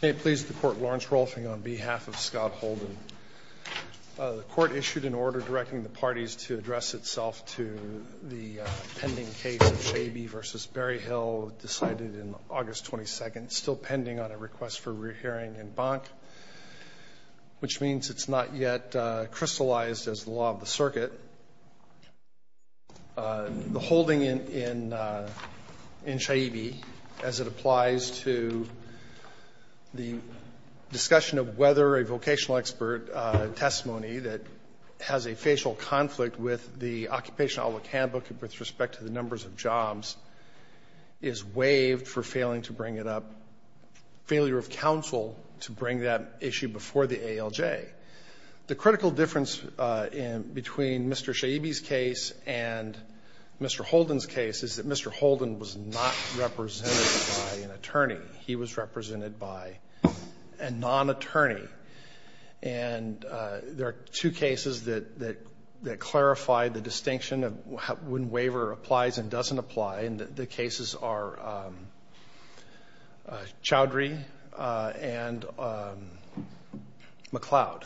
May it please the court Lawrence Rolfing on behalf of Scott Holden. The court issued an order directing the parties to address itself to the pending case of Shaibi v. Berryhill, decided in August 22, still pending on a request for a re-hearing in Bank, which means it's not yet crystallized as the law of the circuit. The holding in Shaibi as it applies to the discussion of whether a vocational expert testimony that has a facial conflict with the Occupational Outlook Handbook with respect to the numbers of jobs is waived for failing to bring it up, failure of counsel to bring that issue before the ALJ. The critical difference in between Mr. Shaibi's case and Mr. Holden's case is that Mr. Holden was not represented by an attorney, he was represented by a non-attorney. And there are two cases that clarify the distinction of when waiver applies and doesn't apply, and the cases are Chowdhury and McLeod.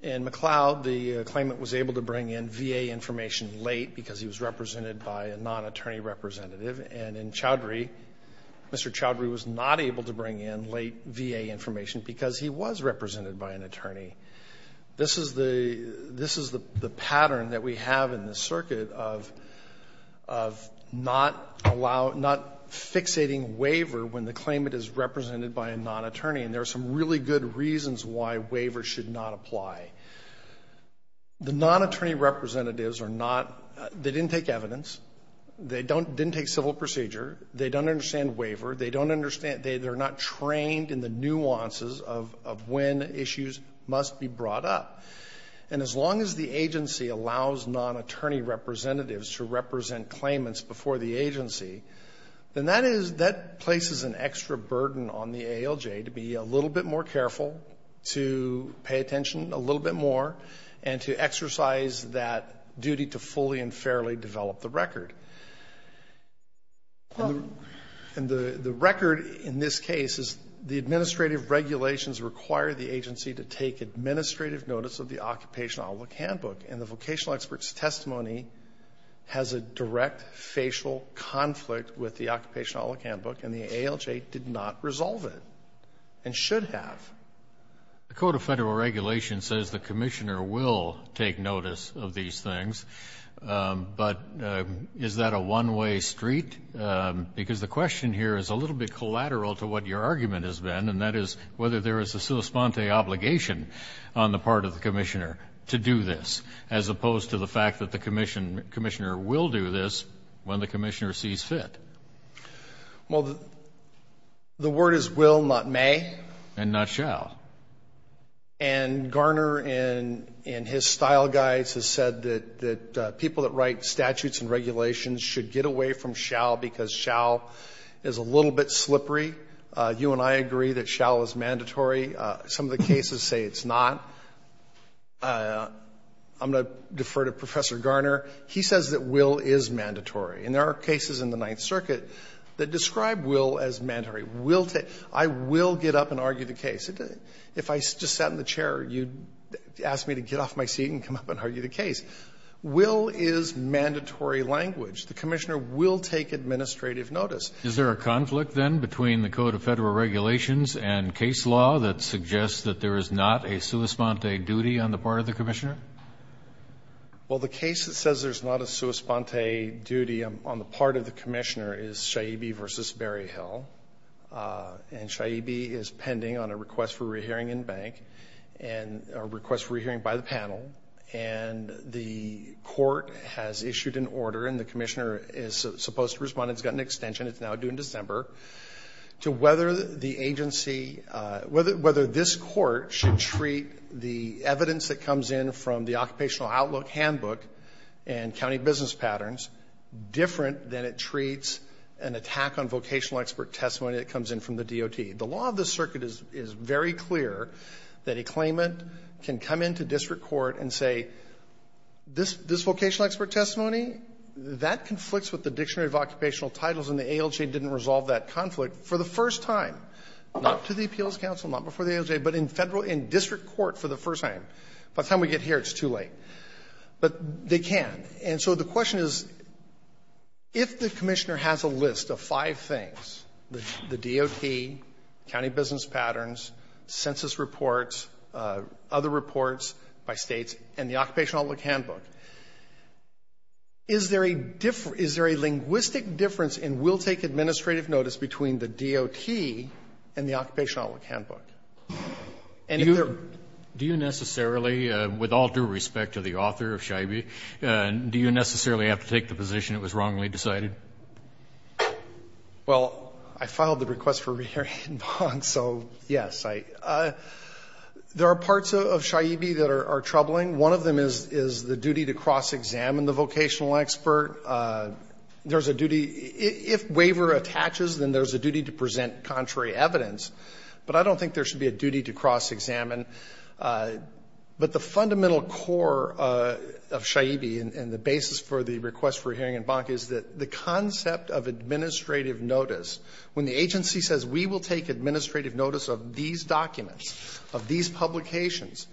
In McLeod, the claimant was able to bring in VA information late because he was represented by a non-attorney representative, and in Chowdhury, Mr. Chowdhury was not able to bring in late VA information because he was represented by an attorney. This is the pattern that we have in the circuit of not fixating waiver when the claimant is represented by a non-attorney, and there are some really good reasons why waiver should not apply. The non-attorney representatives are not — they didn't take evidence. They didn't take civil procedure. They don't understand waiver. They don't understand — they're not trained in the nuances of when issues must be brought up. And as long as the agency allows non-attorney representatives to represent claimants before the agency, then that is — that places an extra burden on the ALJ to be a little bit more careful, to pay attention a little bit more, and to exercise that duty to fully and fairly develop the record. And the record in this case is the administrative regulations require the agency to take administrative notice of the Occupational Outlook Handbook, and the vocational expert's testimony has a direct facial conflict with the Occupational Outlook Handbook, and the ALJ did not resolve it and should have. The Code of Federal Regulations says the commissioner will take notice of these things, but is that a one-way street? Because the question here is a little bit collateral to what your argument has been, and that is whether there is a sosponte obligation on the part of the commissioner to do this, as opposed to the fact that the commissioner will do this when the commissioner sees fit. Well, the word is will, not may. And not shall. And Garner in his style guides has said that people that write statutes and regulations should get away from shall because shall is a little bit slippery. You and I agree that shall is mandatory. Some of the cases say it's not. I'm going to defer to Professor Garner. He says that will is mandatory. And there are cases in the Ninth Circuit that describe will as mandatory. I will get up and argue the case. If I just sat in the chair, you'd ask me to get off my seat and come up and argue the case. Will is mandatory language. The commissioner will take administrative notice. Is there a conflict, then, between the Code of Federal Regulations and case law that suggests that there is not a sosponte duty on the part of the commissioner? Well, the case that says there's not a sosponte duty on the part of the commissioner is Shaibi v. Berryhill. And Shaibi is pending on a request for re-hearing in bank and a request for re-hearing by the panel. And the court has issued an order, and the commissioner is supposed to respond. It's got an extension. It's now due in December, to whether this court should treat the evidence that comes in from the Occupational Outlook Handbook and county business patterns different than it treats an attack on vocational expert testimony that comes in from the DOT. The law of the circuit is very clear that a claimant can come into district court and say, this vocational expert testimony, that conflicts with the Dictionary of Occupational Titles, and the ALJ didn't resolve that conflict for the first time, not to the Appeals Council, not before the ALJ, but in district court for the first time. By the time we get here, it's too late. But they can. And so the question is, if the commissioner has a list of five things, the DOT, county business patterns, census reports, other reports by States, and the Occupational Outlook Handbook, is there a linguistic difference in will-take administrative notice between the DOT and the Occupational Outlook Handbook? And if there are no differences, do you necessarily, with all due respect to the author of Scheibe, do you necessarily have to take the position it was wrongly decided? Well, I filed the request for re-hearing in Bonk, so yes. There are parts of Scheibe that are troubling. One of them is the duty to cross-examine the vocational expert. There's a duty, if waiver attaches, then there's a duty to present contrary evidence. But I don't think there should be a duty to cross-examine. But the fundamental core of Scheibe and the basis for the request for re-hearing in Bonk is that the concept of administrative notice, when the agency says we will take administrative notice of these documents, of these publications,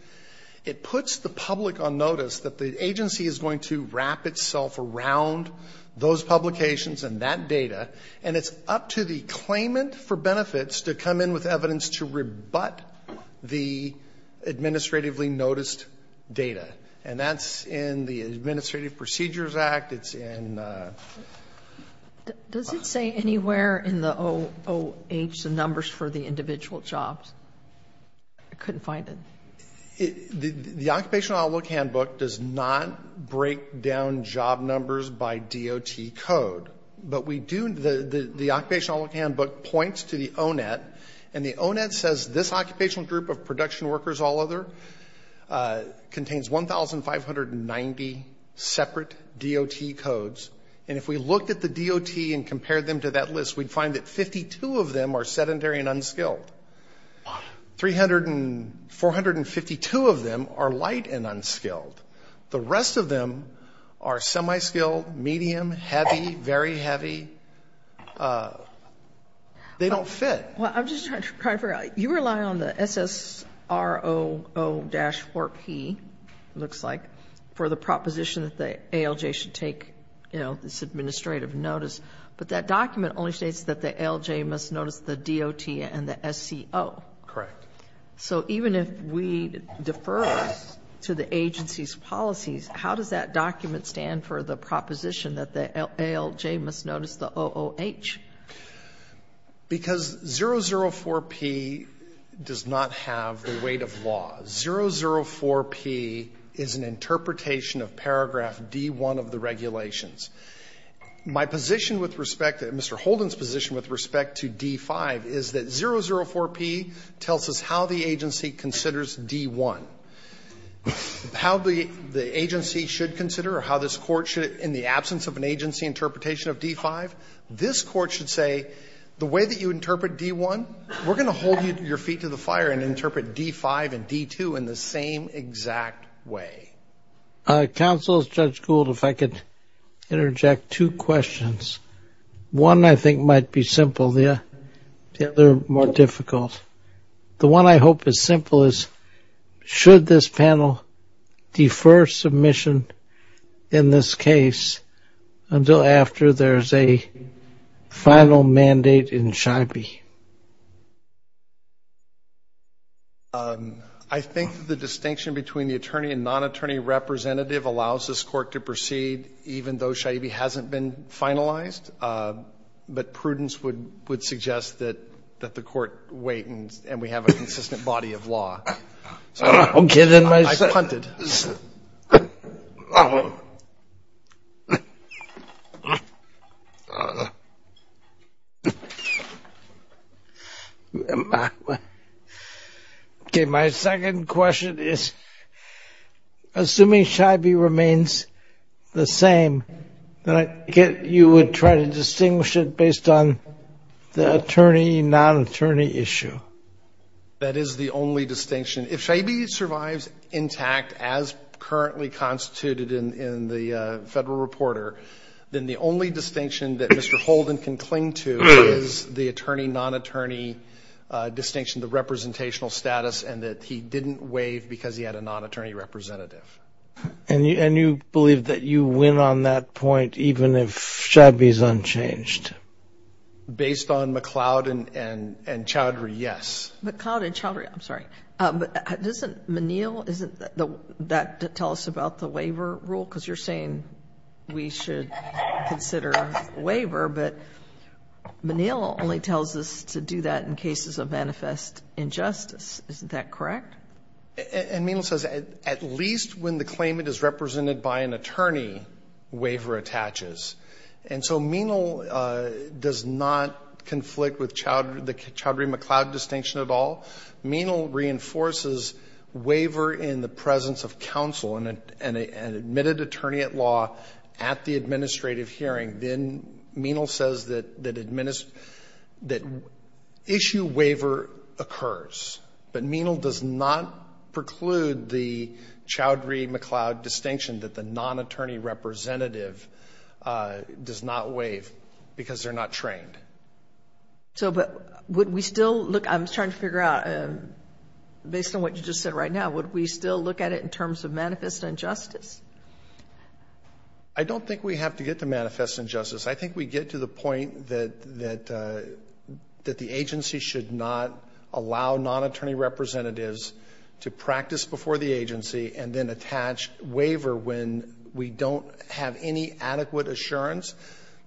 it puts the public on notice that the agency is going to wrap itself around those publications and that data, and it's up to the claimant for benefits to come in with evidence to rebut the administratively noticed data. And that's in the Administrative Procedures Act. It's in the ______. Does it say anywhere in the OOH the numbers for the individual jobs? I couldn't find it. The Occupational Outlook Handbook does not break down job numbers by DOT code. But we do ______, the Occupational Outlook Handbook points to the ONET, and the ONET says this occupational group of production workers, all other, contains 1,590 separate DOT codes. And if we looked at the DOT and compared them to that list, we'd find that 52 of them are sedentary and unskilled. Three hundred and – 452 of them are light and unskilled. The rest of them are semi-skilled, medium, heavy, very heavy. They don't fit. Well, I'm just trying to figure out – you rely on the SSRO-4P, it looks like, for the proposition that the ALJ should take, you know, this administrative notice. But that document only states that the ALJ must notice the DOT and the SCO. Correct. So even if we defer to the agency's policies, how does that document stand for the proposition that the ALJ must notice the OOH? Because 004P does not have the weight of law. 004P is an interpretation of paragraph D.1 of the regulations. My position with respect to – Mr. Holden's position with respect to D.5 is that 004P tells us how the agency considers D.1. How the agency should consider or how this Court should, in the absence of an agency interpretation of D.5, this Court should say the way that you interpret D.1, we're going to hold your feet to the fire and interpret D.5 and D.2 in the same exact way. Counsel, Judge Gould, if I could interject two questions. One I think might be simple. The other more difficult. The one I hope is simple is should this panel defer submission in this case until after there's a final mandate in SHIPE? I think the distinction between the attorney and non-attorney representative allows this Court to proceed even though SHIPE hasn't been finalized. But prudence would suggest that the Court wait and we have a consistent body of law. Okay, then my second question is, assuming SHIPE remains the same, then I get you would try to distinguish it based on the attorney, non-attorney issue. That is the only distinction. If SHIPE survives intact as currently constituted in the Federal Reporter, then the only distinction that Mr. Holden can cling to is the attorney, non-attorney distinction, the representational status, and that he didn't waive because he had a non-attorney representative. And you believe that you win on that point even if SHIPE is unchanged? Based on McCloud and Chowdhury, yes. McCloud and Chowdhury, I'm sorry. But doesn't Menil, doesn't that tell us about the waiver rule? Because you're saying we should consider waiver, but Menil only tells us to do that in cases of manifest injustice. Isn't that correct? And Menil says at least when the claimant is represented by an attorney, waiver attaches. And so Menil does not conflict with the Chowdhury-McCloud distinction at all. Menil reinforces waiver in the presence of counsel and an admitted attorney at law at the administrative hearing. Then Menil says that issue waiver occurs. But Menil does not preclude the Chowdhury-McCloud distinction that the plaintiff does not waive because they're not trained. So would we still look, I'm trying to figure out, based on what you just said right now, would we still look at it in terms of manifest injustice? I don't think we have to get to manifest injustice. I think we get to the point that the agency should not allow non-attorney representatives to practice before the agency and then attach waiver when we don't have any adequate assurance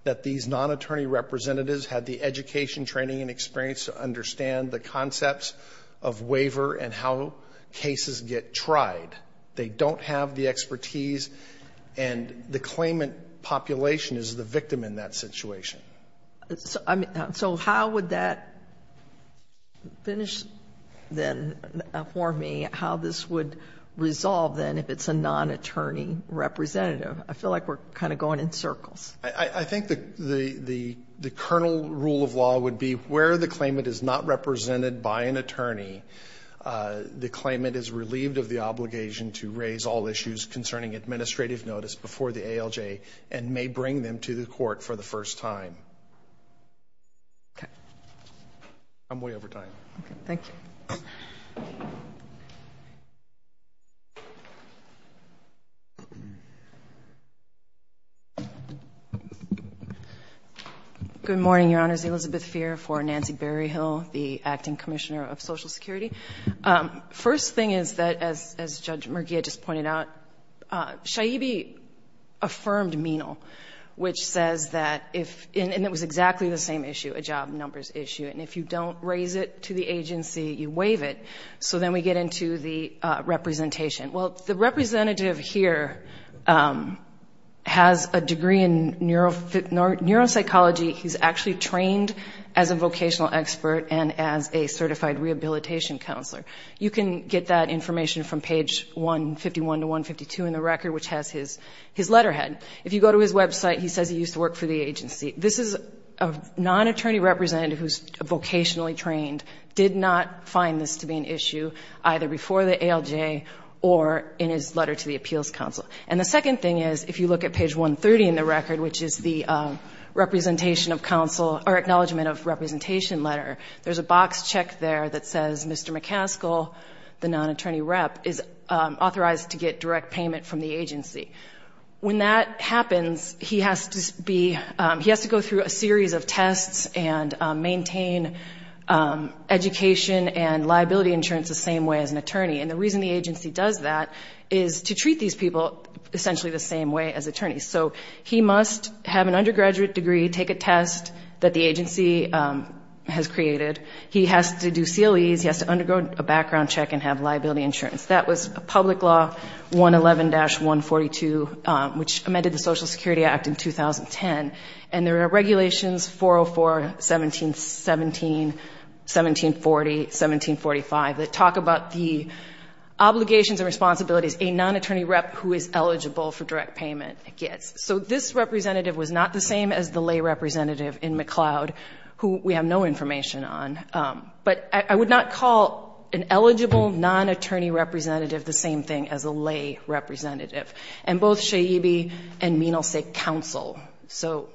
that these non-attorney representatives had the education, training and experience to understand the concepts of waiver and how cases get tried. They don't have the expertise, and the claimant population is the victim in that situation. So how would that finish, then, for me, how this would resolve, then, if it's a non-attorney representative? I feel like we're kind of going in circles. I think the kernel rule of law would be where the claimant is not represented by an attorney, the claimant is relieved of the obligation to raise all issues concerning administrative notice before the ALJ and may bring them to the court for the first time. Okay. I'm way over time. Okay, thank you. Good morning, Your Honors. Elizabeth Feer for Nancy Berryhill, the Acting Commissioner of Social Security. First thing is that, as Judge Murgia just pointed out, Shaibi affirmed MENAL, which says that if, and it was exactly the same issue, a job numbers issue, and if you don't raise it to the agency, you waive it. So then we get into the representation. Well, the representative here has a degree in neuropsychology. He's actually trained as a vocational expert and as a certified rehabilitation counselor. You can get that information from page 151 to 152 in the record, which has his letterhead. If you go to his website, he says he used to work for the agency. This is a non-attorney representative who's vocationally trained, did not find this to be an issue either before the ALJ or in his letter to the Appeals Council. And the second thing is, if you look at page 130 in the record, which is the acknowledgement of representation letter, there's a box check there that says Mr. McCaskill, the non-attorney rep, is authorized to get direct payment from the agency. And maintain education and liability insurance the same way as an attorney. And the reason the agency does that is to treat these people essentially the same way as attorneys. So he must have an undergraduate degree, take a test that the agency has created. He has to do CLEs. He has to undergo a background check and have liability insurance. That was a public law, 111-142, which amended the Social Security Act in 2010. And there are regulations, 404, 1717, 1740, 1745, that talk about the obligations and responsibilities a non-attorney rep who is eligible for direct payment gets. So this representative was not the same as the lay representative in McLeod, who we have no information on. But I would not call an eligible non-attorney representative the same thing as a lay representative. And both Shaibi and Menal say counsel. So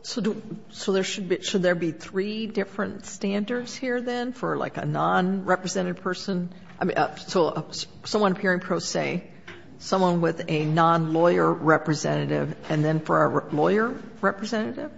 there should be three different standards here, then, for like a non-represented person? I mean, so someone appearing pro se, someone with a non-lawyer representative, and then for a lawyer representative?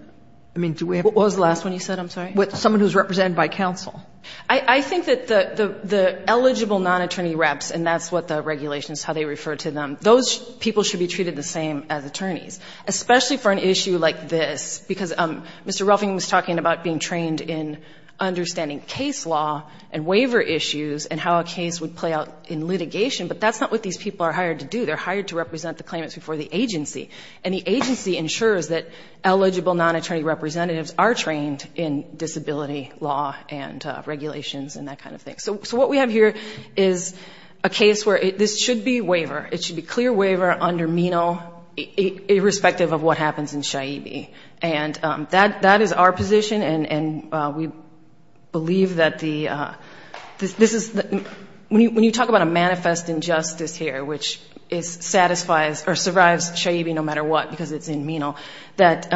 I mean, do we have to? What was the last one you said? I'm sorry. Someone who is represented by counsel. I think that the eligible non-attorney reps, and that's what the regulations, how they refer to them, those people should be treated the same as attorneys, especially for an issue like this. Because Mr. Ruffing was talking about being trained in understanding case law and waiver issues and how a case would play out in litigation. But that's not what these people are hired to do. They're hired to represent the claimants before the agency. And the agency ensures that eligible non-attorney representatives are trained in disability law and regulations and that kind of thing. So what we have here is a case where this should be waiver. It should be clear waiver under MENO, irrespective of what happens in SHIABI. And that is our position, and we believe that the ‑‑ when you talk about a manifest injustice here, which satisfies or survives SHIABI no matter what because it's in MENO, that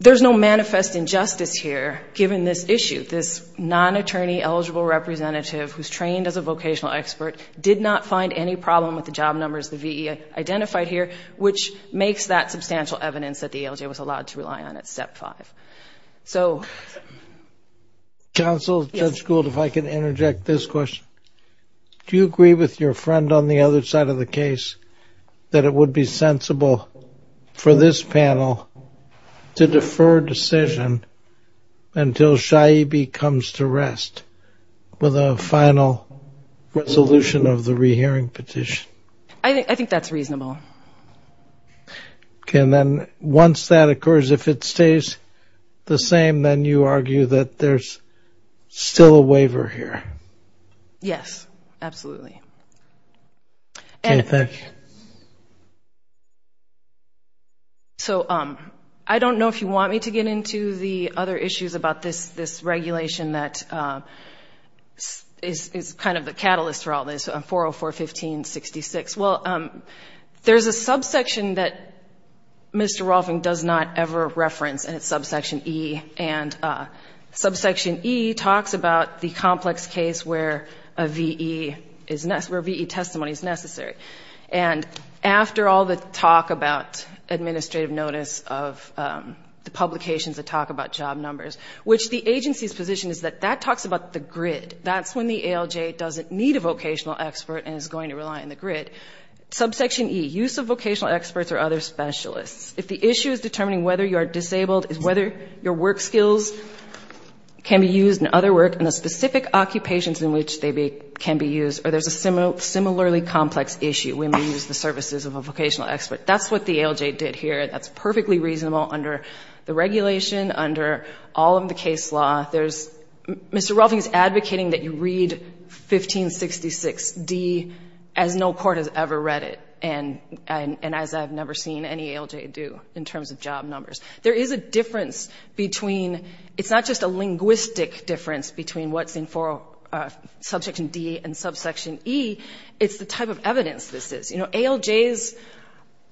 there's no manifest injustice here given this issue. This non-attorney eligible representative who's trained as a vocational expert did not find any problem with the job numbers, the VE identified here, which makes that substantial evidence that the ALJ was allowed to rely on at Step 5. So ‑‑ Counsel, Judge Gould, if I can interject this question. Do you agree with your friend on the other side of the case that it would be sensible for this panel to defer decision until SHIABI comes to rest with a final resolution of the rehearing petition? I think that's reasonable. Okay. And then once that occurs, if it stays the same, then you argue that there's still a waiver here? Yes, absolutely. Okay. Thank you. So I don't know if you want me to get into the other issues about this regulation that is kind of the catalyst for all this, 404.15.66. Well, there's a subsection that Mr. Rolfing does not ever reference, and it's subsection E. And subsection E talks about the complex case where a VE testimony is necessary. And after all the talk about administrative notice of the publications that talk about job numbers, which the agency's position is that that talks about the grid. That's when the ALJ doesn't need a vocational expert and is going to rely on the grid. Subsection E, use of vocational experts or other specialists. If the issue is determining whether you are disabled, is whether your work skills can be used in other work in the specific occupations in which they can be used, or there's a similarly complex issue when we use the services of a vocational expert. That's what the ALJ did here. That's perfectly reasonable under the regulation, under all of the case law. There's Mr. Rolfing's advocating that you read 1566D as no court has ever read it, and as I've never seen any ALJ do in terms of job numbers. There is a difference between ‑‑ it's not just a linguistic difference between what's in subsection D and subsection E, it's the type of evidence this is. You know, ALJs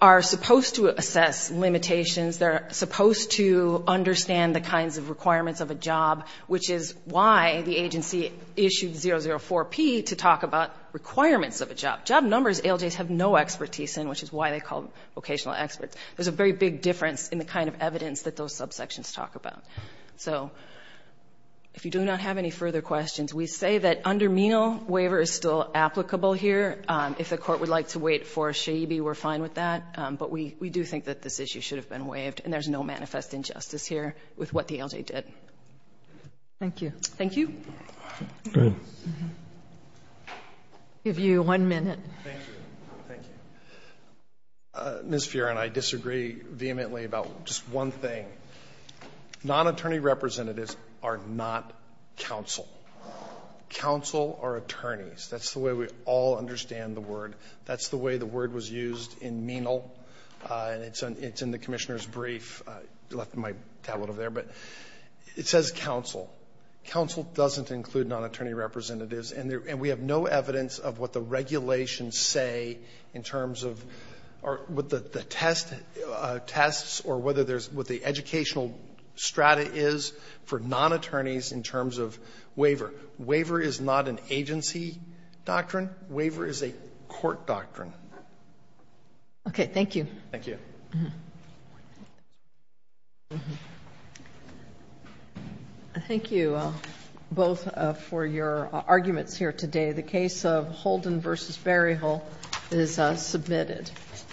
are supposed to assess limitations. They're supposed to understand the kinds of requirements of a job, which is why the agency issued 004P to talk about requirements of a job. Job numbers ALJs have no expertise in, which is why they call them vocational experts. There's a very big difference in the kind of evidence that those subsections talk about. So if you do not have any further questions, we say that under Menal, waiver is still applicable here. If the Court would like to wait for Shaibi, we're fine with that. But we do think that this issue should have been waived, and there's no manifest injustice here with what the ALJ did. Thank you. Thank you. I'll give you one minute. Thank you. Thank you. Ms. Fearon, I disagree vehemently about just one thing. Nonattorney representatives are not counsel. Counsel are attorneys. That's the way we all understand the word. That's the way the word was used in Menal, and it's in the Commissioner's brief, left in my tablet over there. But it says counsel. Counsel doesn't include nonattorney representatives, and we have no evidence of what the regulations say in terms of what the test tests or whether there's what the educational strata is for nonattorneys in terms of waiver. Waiver is not an agency doctrine. Waiver is a court doctrine. Okay. Thank you. Thank you. Thank you both for your arguments here today. The case of Holden v. Berryhill is submitted.